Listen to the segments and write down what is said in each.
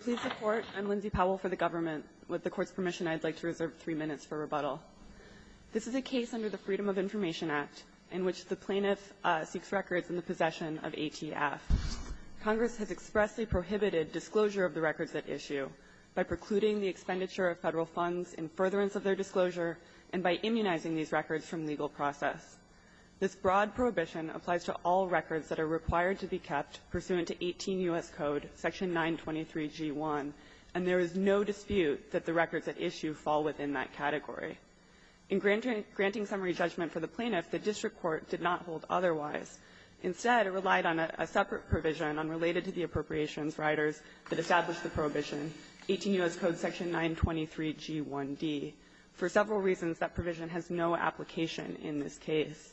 Please support. I'm Lindsay Powell for the government. With the court's permission, I'd like to reserve three minutes for rebuttal. This is a case under the Freedom of Information Act in which the plaintiff seeks records in the possession of ATF. Congress has expressly prohibited disclosure of the records at issue by precluding the expenditure of federal funds in furtherance of their disclosure and by immunizing these records from legal process. This broad prohibition applies to all records that are required to be kept pursuant to 18 U.S. Code section 923G1, and there is no dispute that the records at issue fall within that category. In granting summary judgment for the plaintiff, the district court did not hold otherwise. Instead, it relied on a separate provision unrelated to the appropriations riders that established the prohibition, 18 U.S. Code section 923G1d. For several reasons, that provision has no application in this case.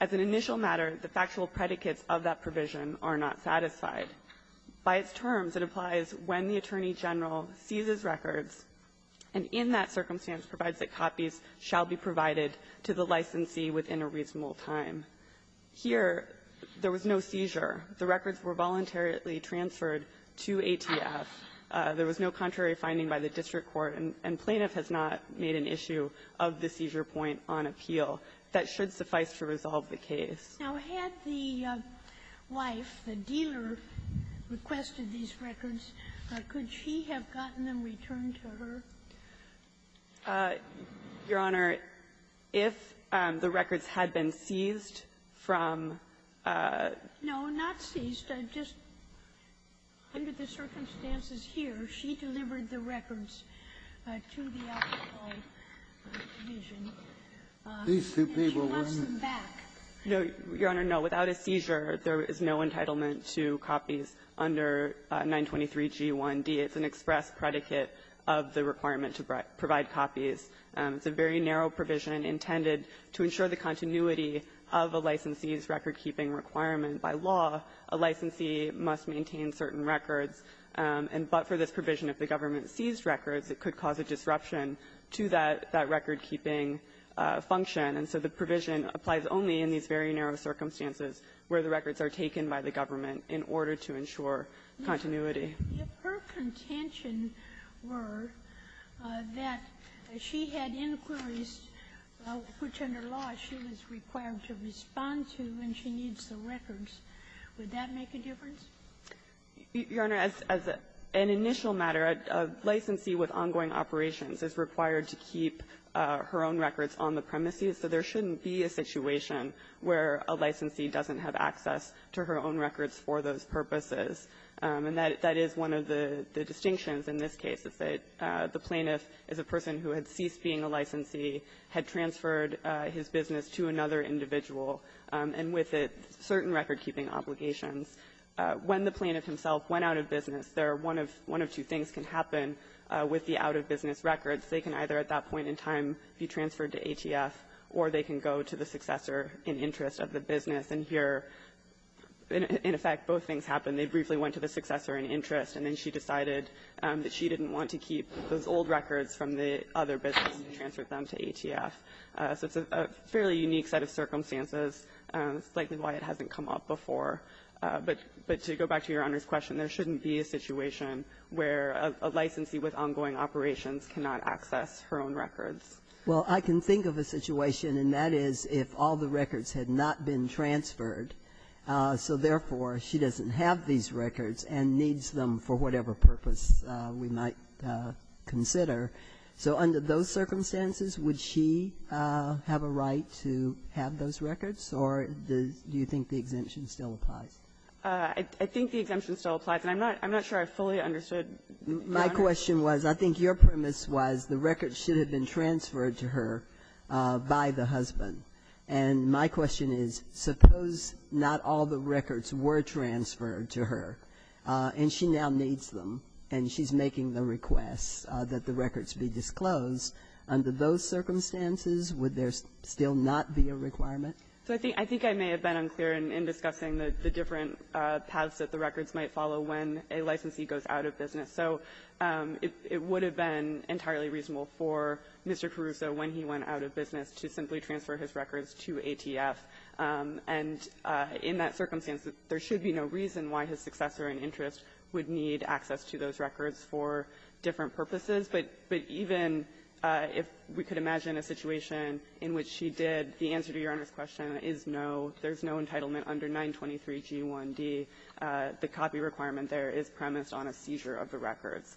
As an initial matter, the factual predicates of that provision are not satisfied. By its terms, it applies when the Attorney General seizes records, and in that circumstance provides that copies shall be provided to the licensee within a reasonable time. Here, there was no seizure. The records were voluntarily transferred to ATF. There was no contrary finding by the district court, and plaintiff has not made an issue of the seizure point on appeal. That should suffice to resolve the case. Now, had the wife, the dealer, requested these records, could she have gotten them returned to her? Your Honor, if the records had been seized from the attorney general's office, there is no entitlement to copies under 923G1d. It's an express predicate of the requirement to provide copies. It's a very narrow provision intended to ensure the continuity of a licensee's record-keeping requirement. By law, a licensee must maintain certain records, but for this provision, if the government seized records, it could cause a disruption to that record-keeping function. And so the provision applies only in these very narrow circumstances where the records are taken by the government in order to ensure continuity. Ginsburg. If her contention were that she had inquiries which, under law, she was required to respond to and she needs the records, would that make a difference? Your Honor, as an initial matter, a licensee with ongoing operations is required to keep her own records on the premises, so there shouldn't be a situation where a licensee doesn't have access to her own records for those purposes. And that is one of the distinctions in this case, is that the plaintiff is a person who had ceased being a licensee, had transferred his business to another individual, and with it certain record-keeping obligations. When the plaintiff himself went out of business, there are one of two things can happen with the out-of-business records. They can either at that point in time be transferred to ATF, or they can go to the successor in interest of the business. And here, in effect, both things happen. They briefly went to the successor in interest, and then she decided that she didn't want to keep those old records from the other business and transferred them to ATF. So it's a fairly unique set of circumstances, likely why it hasn't come up before. But to go back to Your Honor's question, there shouldn't be a situation where a licensee with ongoing operations cannot access her own records. Well, I can think of a situation, and that is if all the records had not been transferred, so therefore she doesn't have these records and needs them for whatever purpose we might consider. So under those circumstances, would she have a right to have those records, or do you think the exemption still applies? I think the exemption still applies, and I'm not sure I fully understood, Your Honor. My question was, I think your premise was the records should have been transferred to her by the husband. And my question is, suppose not all the records were transferred to her, and she now needs them, and she's making the request that the records be disclosed. Under those circumstances, would there still not be a requirement? So I think I may have been unclear in discussing the different paths that the records might follow when a licensee goes out of business. So it would have been entirely reasonable for Mr. Caruso, when he went out of business, to simply transfer his records to ATF. And in that circumstance, there should be no reason why his successor in interest would need access to those records for different purposes. But even if we could imagine a situation in which she did, the answer to Your Honor's question is no. There's no entitlement under 923g1d. The copy requirement there is premised on a seizure of the records.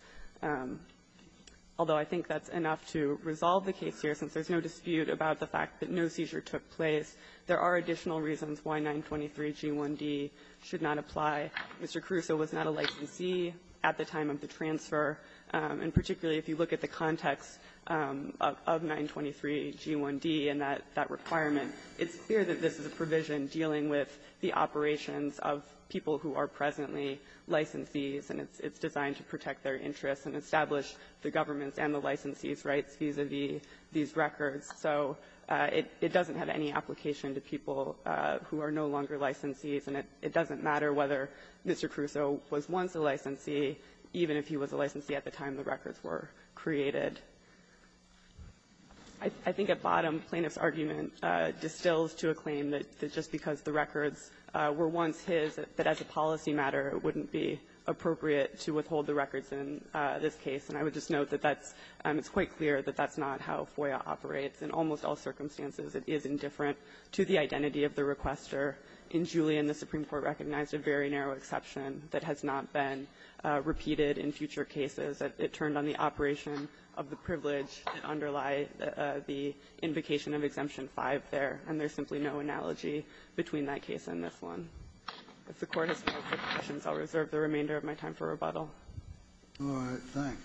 Although I think that's enough to resolve the case here, since there's no dispute about the fact that no seizure took place, there are additional reasons why 923g1d should not apply. Mr. Caruso was not a licensee at the time of the transfer. And particularly, if you look at the context of 923g1d and that requirement, it's clear that this is a provision dealing with the operations of people who are presently licensees, and it's designed to protect their interests and establish the government's and the licensee's rights vis-a-vis these records. So it doesn't have any application to people who are no longer licensees, and it doesn't matter whether Mr. Caruso was once a licensee, even if he was a licensee at the time the records were created. I think at bottom, plaintiff's argument distills to a claim that just because the records were once his, that as a policy matter, it wouldn't be appropriate to withhold the records in this case. And I would just note that that's quite clear that that's not how FOIA operates. In almost all circumstances, it is indifferent to the identity of the requester. In Julian, the Supreme Court recognized a very narrow exception that has not been repeated in future cases. It turned on the operation of the privilege that underlie the invocation of Exemption V there, and there's simply no analogy between that case and this one. If the Court has no further questions, I'll reserve the remainder of my time for rebuttal. All right. Thank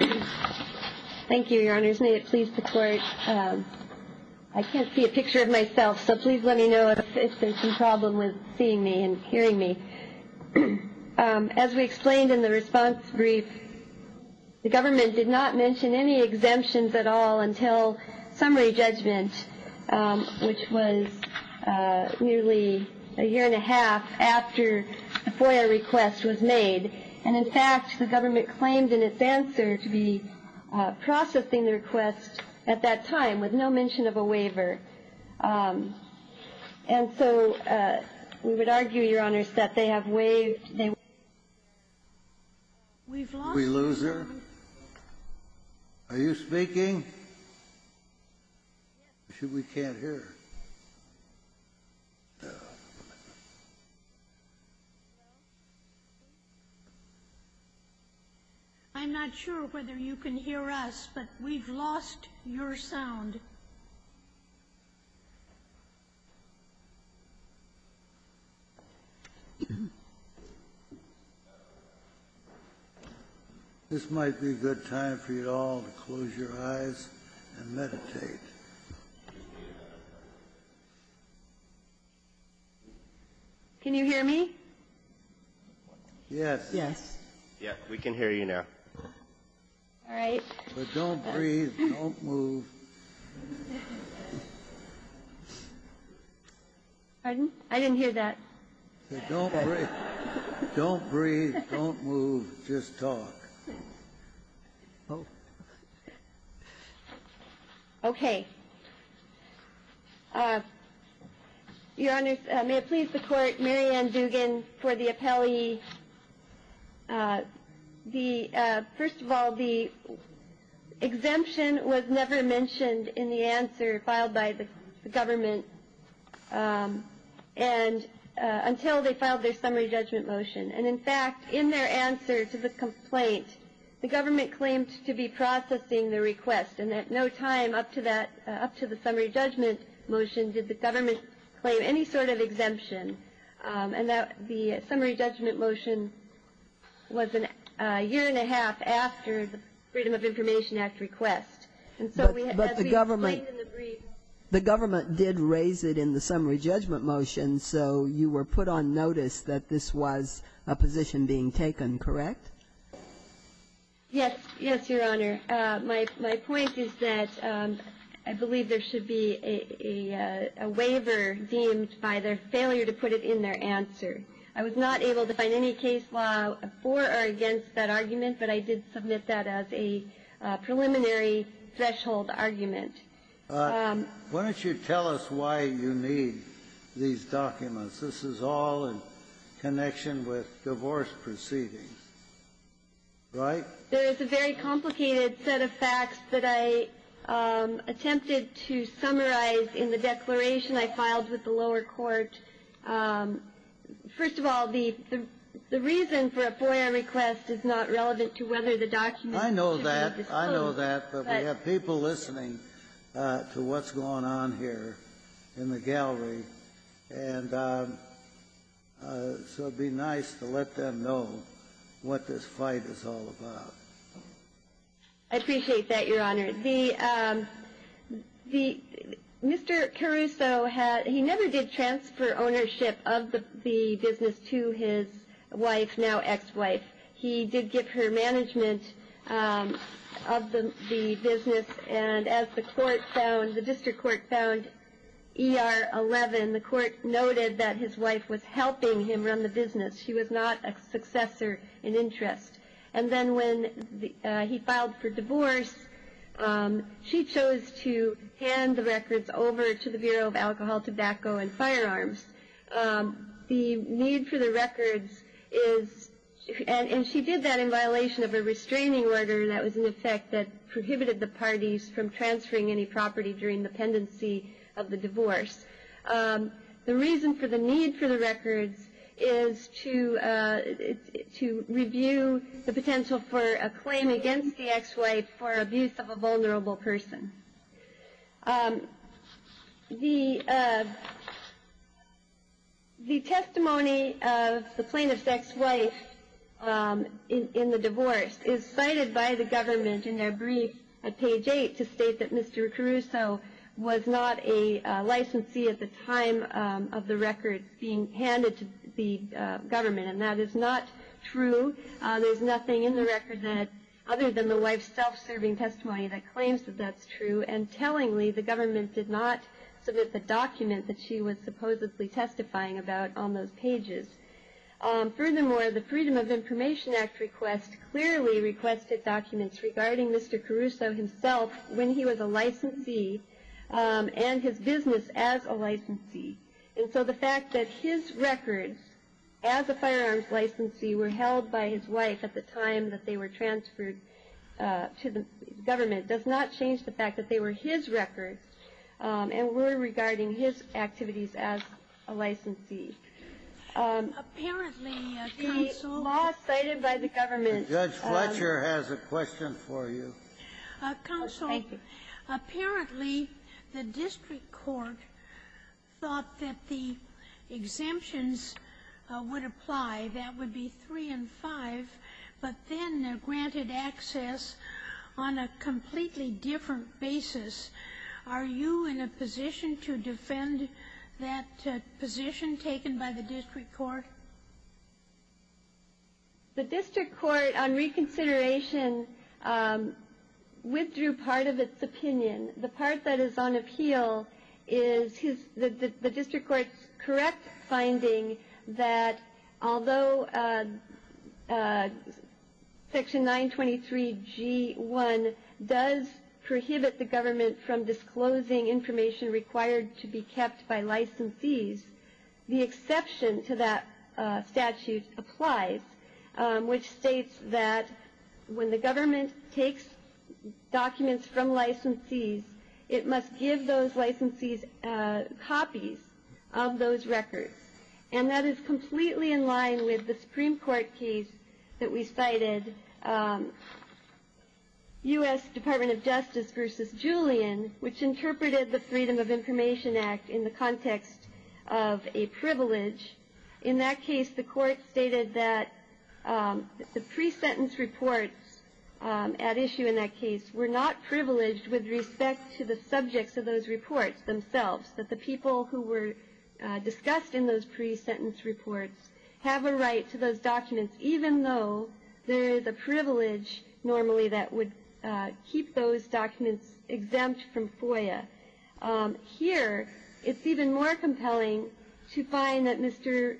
you. Thank you, Your Honors. May it please the Court. I can't see a picture of myself, so please let me know if there's some problem with seeing me and hearing me. As we explained in the response brief, the government did not mention any exemptions at all until summary judgment, which was nearly a year and a half after the FOIA request was made. And in fact, the government claimed in its answer to be processing the request at that time with no mention of a waiver. And so we would argue, Your Honors, that they have waived. We've lost your sound. Are you speaking? We can't hear. I'm not sure whether you can hear us, but we've lost your sound. This might be a good time for you all to close your eyes and meditate. Can you hear me? Yes. Yes. Yes. We can hear you now. All right. Don't breathe. Don't move. Pardon? I didn't hear that. Don't breathe. Don't breathe. Don't move. Just talk. Okay. Your Honors, may it please the Court, Mary Ann Dugan for the appellee. First of all, the exemption was never mentioned in the answer filed by the government until they filed their summary judgment motion. And in fact, in their answer to the complaint, the government claimed to be processing the request and at no time up to the summary judgment motion did the government claim any sort of exemption. And the summary judgment motion was a year and a half after the Freedom of Information Act request. But the government did raise it in the summary judgment motion, so you were put on notice that this was a position being taken, correct? Yes, Your Honor. My point is that I believe there should be a waiver deemed by their failure to put it in their answer. I was not able to find any case law for or against that argument, but I did submit that as a preliminary threshold argument. Why don't you tell us why you need these documents? This is all in connection with divorce proceedings, right? There is a very complicated set of facts that I attempted to summarize in the declaration I filed with the lower court. First of all, the reason for a FOIA request is not relevant to whether the documents should be disclosed. I know that, but we have people listening to what's going on here in the gallery, and so it'd be nice to let them know what this fight is all about. I appreciate that, Your Honor. Mr. Caruso, he never did transfer ownership of the business to his wife, now ex-wife. He did give her management of the business, and as the court found, the district court found that ER 11, the court noted that his wife was helping him run the business. She was not a successor in interest. And then when he filed for divorce, she chose to hand the records over to the Bureau of Alcohol, Tobacco, and Firearms. The need for the records is, and she did that in violation of a restraining order that was in the tendency of the divorce, the reason for the need for the records is to review the potential for a claim against the ex-wife for abuse of a vulnerable person. The testimony of the plaintiff's ex-wife in the divorce is cited by the government in their Mr. Caruso was not a licensee at the time of the record being handed to the government, and that is not true. There's nothing in the record other than the wife's self-serving testimony that claims that that's true. And tellingly, the government did not submit the document that she was supposedly testifying about on those pages. Furthermore, the Freedom of Information Act request clearly requested documents regarding Mr. Caruso himself when he was a licensee, and his business as a licensee. And so the fact that his records as a firearms licensee were held by his wife at the time that they were transferred to the government does not change the fact that they were his records and were regarding his activities as a licensee. Apparently, counsel. The law cited by the government. Judge Fletcher has a question for you. Counsel, apparently the district court thought that the exemptions would apply, that would be three and five, but then they're granted access on a completely different basis. Are you in a position to defend that position taken by the district court? The district court, on reconsideration, withdrew part of its opinion. The part that is on appeal is the district court's correct finding that although Section 923G1 does prohibit the government from disclosing information required to be kept by licensees, the exception to that statute applies, which states that when the government takes documents from licensees, it must give those licensees copies of those records. And that is completely in line with the Supreme Court case that we cited, U.S. Department of Justice v. Julian, which interpreted the Freedom of Information Act in the context of a privilege. In that case, the court stated that the pre-sentence reports at issue in that case were not privileged with respect to the subjects of those reports themselves, that the people who were discussed in those pre-sentence reports have a right to those documents, even though there is a privilege normally that would keep those documents exempt from FOIA. Here, it's even more compelling to find that Mr.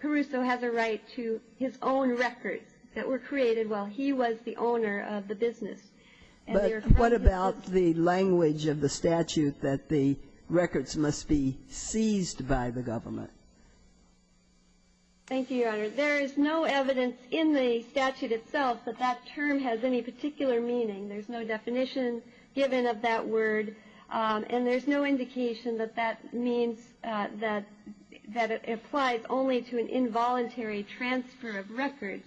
Caruso has a right to his own records that were created while he was the owner of the business. And they are friends of his. But what about the language of the statute that the records must be seized by the government? Thank you, Your Honor. There is no evidence in the statute itself that that term has any particular meaning. There's no definition given of that word, and there's no indication that that means that it applies only to an involuntary transfer of records.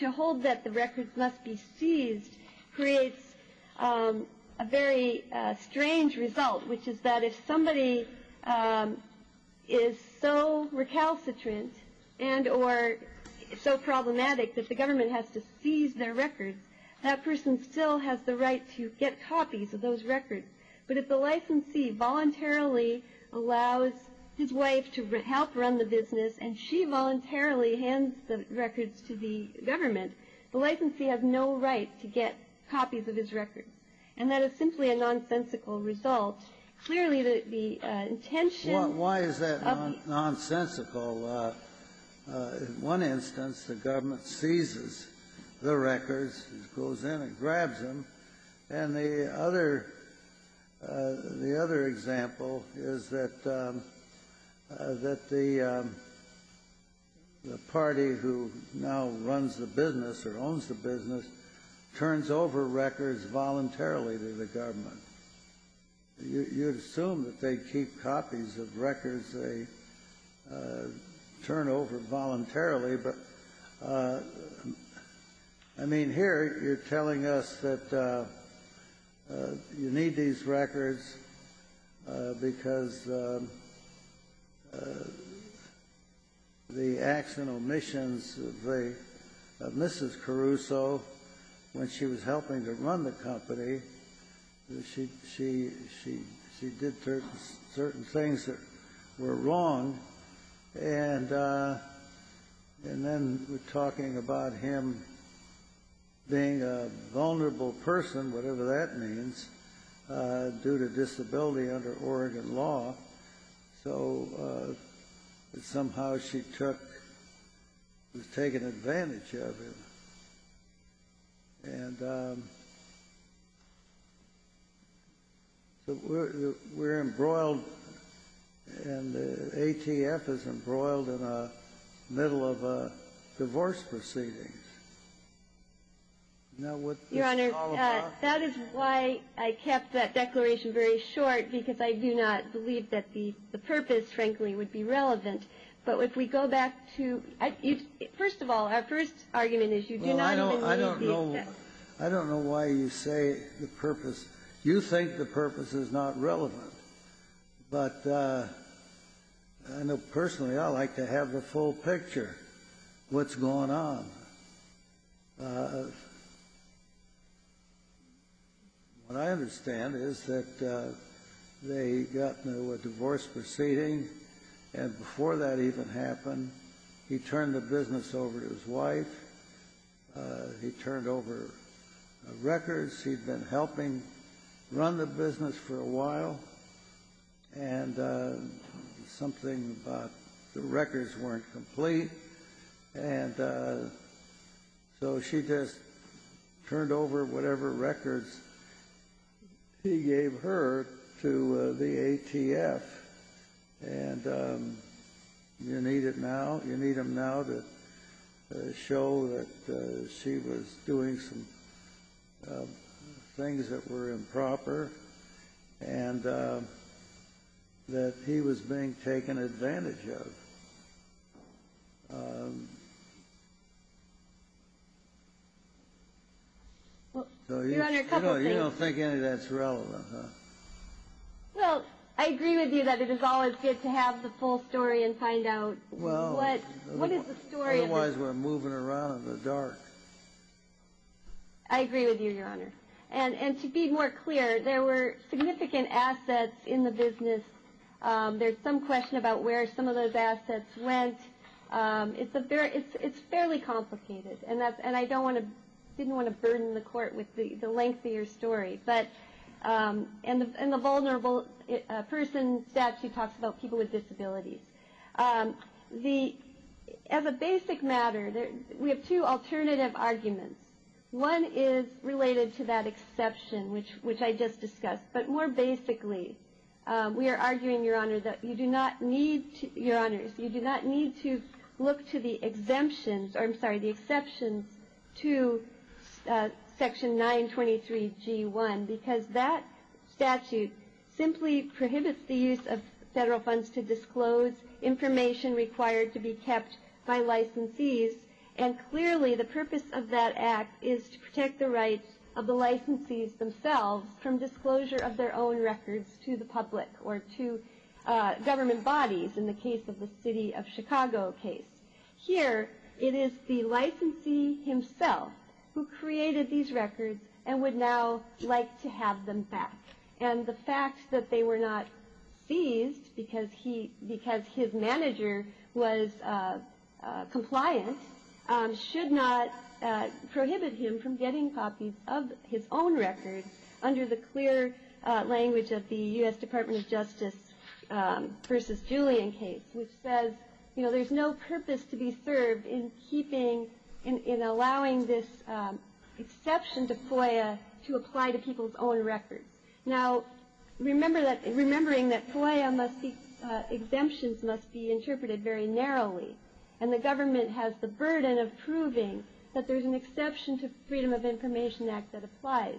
To hold that the records must be seized creates a very strange result, which is that if somebody is so recalcitrant and or so problematic that the government has to seize their records, that person still has the right to get copies of those records. But if the licensee voluntarily allows his wife to help run the business, and she voluntarily hands the records to the government, the licensee has no right to get copies of his records. And that is simply a nonsensical result. Clearly, the intention of the ---- Well, why is that nonsensical? Well, in one instance, the government seizes the records, goes in and grabs them. And the other example is that the party who now runs the business or owns the business turns over records voluntarily to the government. You'd assume that they'd keep copies of records they turn over voluntarily, but, I mean, here you're telling us that you need these records because the acts and omissions of Mrs. Caruso, when she was helping to run the company, she did certain things that were wrong. And then we're talking about him being a vulnerable person, whatever that means, due to disability under Oregon law. So somehow she took, was taken advantage of him. And so we're embroiled, and the ATF is embroiled in the middle of a divorce proceedings. Now, what this is all about ---- Your Honor, that is why I kept that declaration very short, because I do not believe that the purpose, frankly, would be relevant. But if we go back to ---- First of all, our first argument is you do not have any ---- I don't know why you say the purpose. You think the purpose is not relevant. But I know personally I like to have the full picture, what's going on. What I understand is that they got into a divorce proceeding, and before that even happened, he turned the business over to his wife. He turned over records. He'd been helping run the business for a while, and something about the records weren't complete. And so she just turned over whatever records he gave her to the ATF. And you need it now, you need them now to show that she was doing some things that were improper, and that he was being taken advantage of. Well, Your Honor, a couple things ---- You don't think any of that's relevant, huh? Well, I agree with you that it is always good to have the full story and find out what is the story of the ---- Well, otherwise we're moving around in the dark. I agree with you, Your Honor. And to be more clear, there were significant assets in the business. There's some question about where some of those assets went. It's fairly complicated, and I didn't want to burden the Court with the length of your story. And the vulnerable person statute talks about people with disabilities. As a basic matter, we have two alternative arguments. One is related to that exception, which I just discussed. But more basically, we are arguing, Your Honor, that you do not need to look to the exceptions to Section 923G1. Because that statute simply prohibits the use of federal funds to disclose information required to be kept by licensees. And clearly, the purpose of that Act is to protect the rights of the licensees themselves from disclosure of their own records to the public or to government bodies, in the case of the City of Chicago case. Here, it is the licensee himself who created these records and would now like to have them back. And the fact that they were not seized because his manager was compliant should not prohibit him from getting copies of his own records under the clear language of the U.S. Department of Justice v. Julian case, which says there is no purpose to be served in allowing this exception to FOIA to apply to people's own records. Now, remembering that FOIA exemptions must be interpreted very narrowly, and the government has the burden of proving that there is an exception to Freedom of Information Act that applies.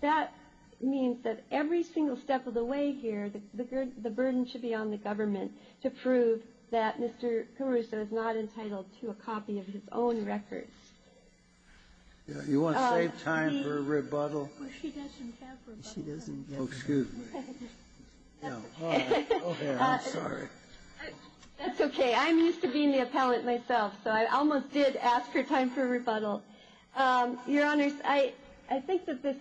That means that every single step of the way here, the burden should be on the government to prove that Mr. Caruso is not entitled to a copy of his own records. You want to save time for a rebuttal? She doesn't have rebuttal time. Oh, excuse me. That's okay. That's okay. I'm used to being the appellant myself, so I almost did ask for time for a rebuttal. Your Honors, I think that this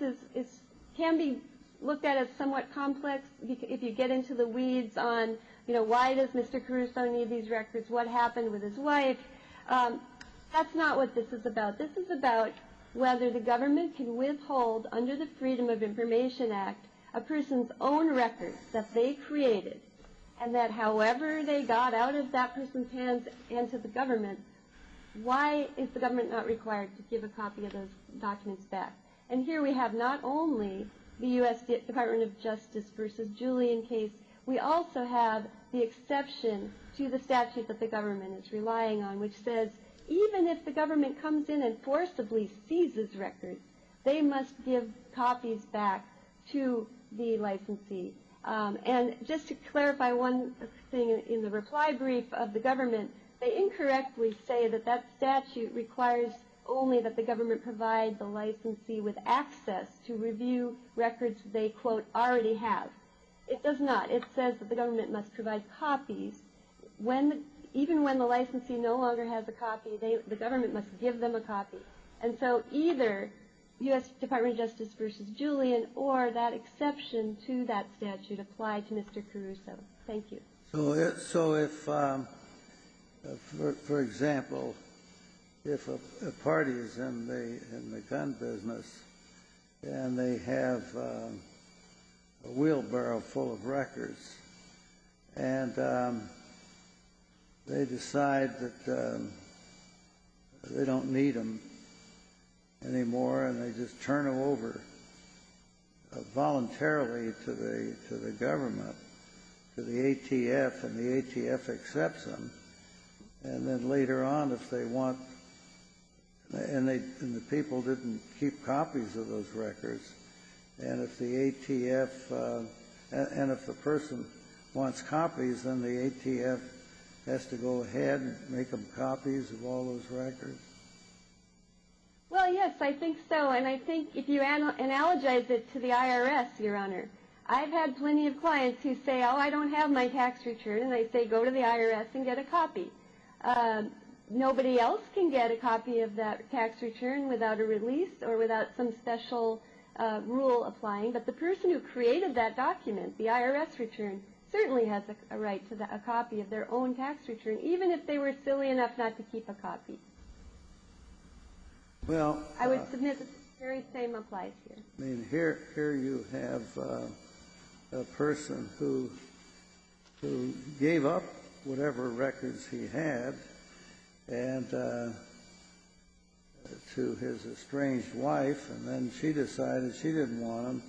can be looked at as somewhat complex if you get into the weeds on why does Mr. Caruso need these records, what happened with his wife. That's not what this is about. This is about whether the government can withhold, under the Freedom of Information Act, a person's own records that they created, and that however they got out of that person's hands and to the government, why is the government not required to give a copy of those documents back? And here we have not only the U.S. Department of Justice v. Julian case, we also have the exception to the statute that the government is relying on, which says even if the government comes in and forcibly seizes records, they must give copies back to the licensee. And just to clarify one thing in the reply brief of the government, they incorrectly say that that statute requires only that the government provide the licensee with access to review records they quote, already have. It does not. It says that the government must provide copies. Even when the licensee no longer has a copy, the government must give them a copy. And so either U.S. Department of Justice v. Julian or that exception to that statute apply to Mr. Caruso. Thank you. So if, for example, if a party is in the gun business and they have a wheelbarrow full of records and they decide that they don't need them anymore and they just turn them over voluntarily to the government, to the ATF, and the ATF accepts them, and then later on if they want, and the people didn't keep copies of those records, and if the ATF, and if the person wants copies, then the ATF has to go ahead and make them copies of all those records? Well, yes, I think so. And I think if you analogize it to the IRS, Your Honor, I've had plenty of clients who say, oh, I don't have my tax return. And they say, go to the IRS and get a copy. Nobody else can get a copy of that tax return without a release or without some special rule applying. But the person who created that document, the IRS return, certainly has a right to a copy of their own tax return, Well, here you have a person who gave up whatever records he had to his estranged wife, and then she decided she didn't want them.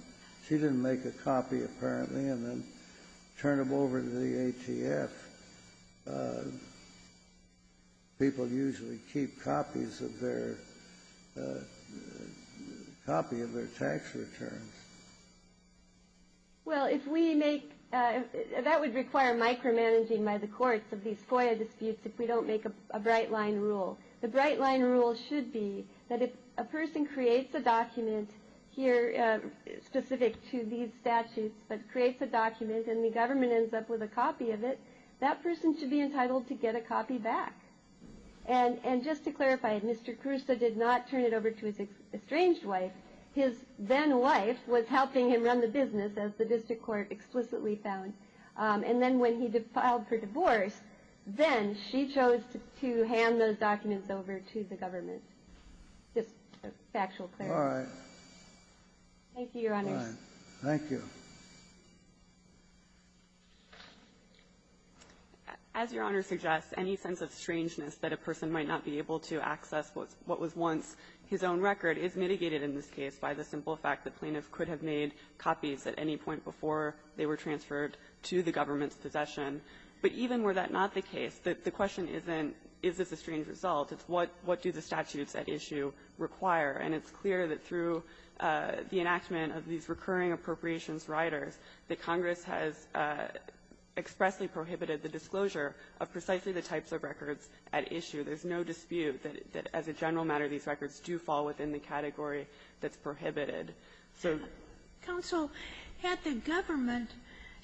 She didn't make a copy, apparently, and then turned them over to the ATF. People usually keep copies of their tax returns. Well, if we make, that would require micromanaging by the courts of these FOIA disputes if we don't make a bright line rule. The bright line rule should be that if a person creates a document here, specific to these statutes, but creates a document and the government ends up with a copy of it, that person should be entitled to get a copy back. And just to clarify, Mr. Caruso did not turn it over to his estranged wife. His then-wife was helping him run the business, as the district court explicitly found. And then when he filed for divorce, then she chose to hand those documents over to the government. Just a factual clarification. All right. Thank you, Your Honor. All right. Thank you. As Your Honor suggests, any sense of strangeness that a person might not be able to access what was once his own record is mitigated in this case by the simple fact that plaintiff could have made copies at any point before they were transferred to the government's possession. But even were that not the case, the question isn't, is this a strange result? It's, what do the statutes at issue require? And it's clear that through the enactment of these recurring appropriations riders, that Congress has expressly prohibited the disclosure of precisely the types of records at issue. There's no dispute that as a general matter, these records do fall within the category that's prohibited. So the question is, if the government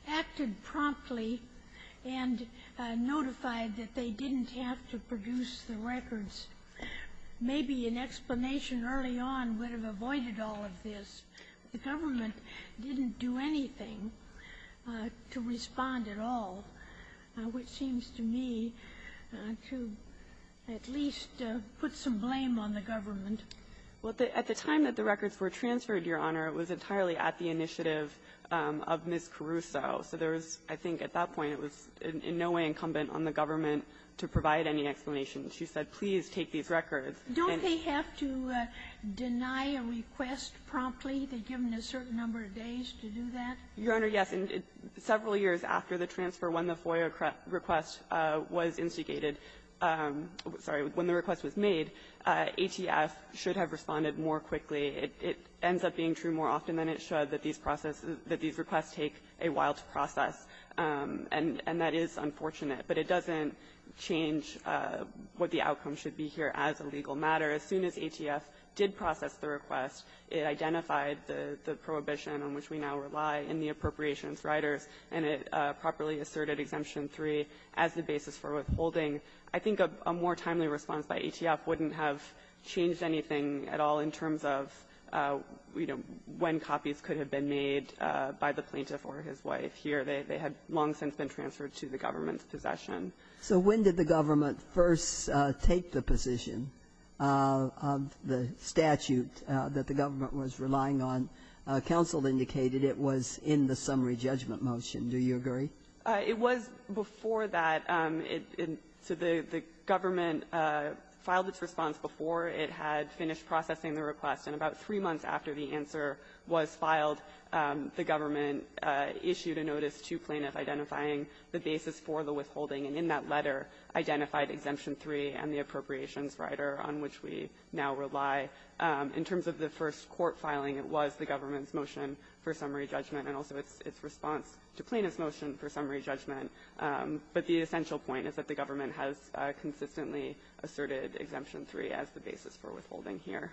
acted promptly and notified that they didn't have to produce the records, maybe an explanation early on would have avoided all of this. The government didn't do anything to respond at all, which seems to me to at least put some blame on the government. Well, at the time that the records were transferred, Your Honor, it was entirely at the initiative of Ms. Caruso. So there was, I think at that point, it was in no way incumbent on the government to provide any explanation. She said, please take these records. Don't they have to deny a request promptly? They're given a certain number of days to do that? Your Honor, yes. Several years after the transfer, when the FOIA request was instigated, sorry, when the request was made, ATF should have responded more quickly. It ends up being true more often than it should, that these requests take a while to process. And that is unfortunate. But it doesn't change what the outcome should be here as a legal matter. As soon as ATF did process the request, it identified the prohibition on which we now rely in the appropriations riders, and it properly asserted Exemption 3 as the basis for withholding. I think a more timely response by ATF wouldn't have changed anything at all in terms of, you know, when copies could have been made by the plaintiff or his wife. Here, they had long since been transferred to the government's possession. So when did the government first take the position of the statute that the government was relying on? Counsel indicated it was in the summary judgment motion. Do you agree? It was before that. So the government filed its response before it had finished processing the request. And about three months after the answer was filed, the government issued a notice to plaintiff identifying the basis for the withholding. And in that letter, identified Exemption 3 and the appropriations rider on which we now rely. In terms of the first court filing, it was the government's motion for summary judgment, and also its response to plaintiff's motion for summary judgment. But the essential point is that the government has consistently asserted Exemption 3 as the basis for withholding here.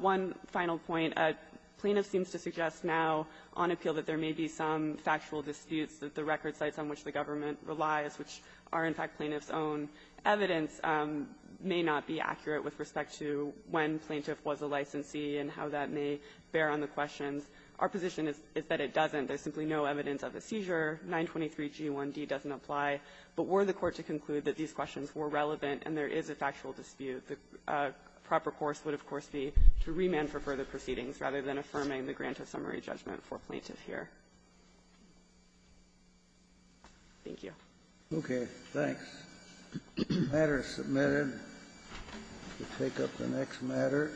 One final point. Plaintiff seems to suggest now on appeal that there may be some factual disputes that the record sites on which the government relies, which are, in fact, plaintiff's own evidence, may not be accurate with respect to when plaintiff was a licensee and how that may bear on the questions. Our position is that it doesn't. There's simply no evidence of a seizure. 923g1d doesn't apply. But were the court to conclude that these questions were relevant and there is a factual dispute, the proper course would, of course, be to remand for further proceedings rather than affirming the grant of summary judgment for plaintiff here. Thank you. Kennedy. Okay. Thanks. The matter is submitted. We'll take up the next matter.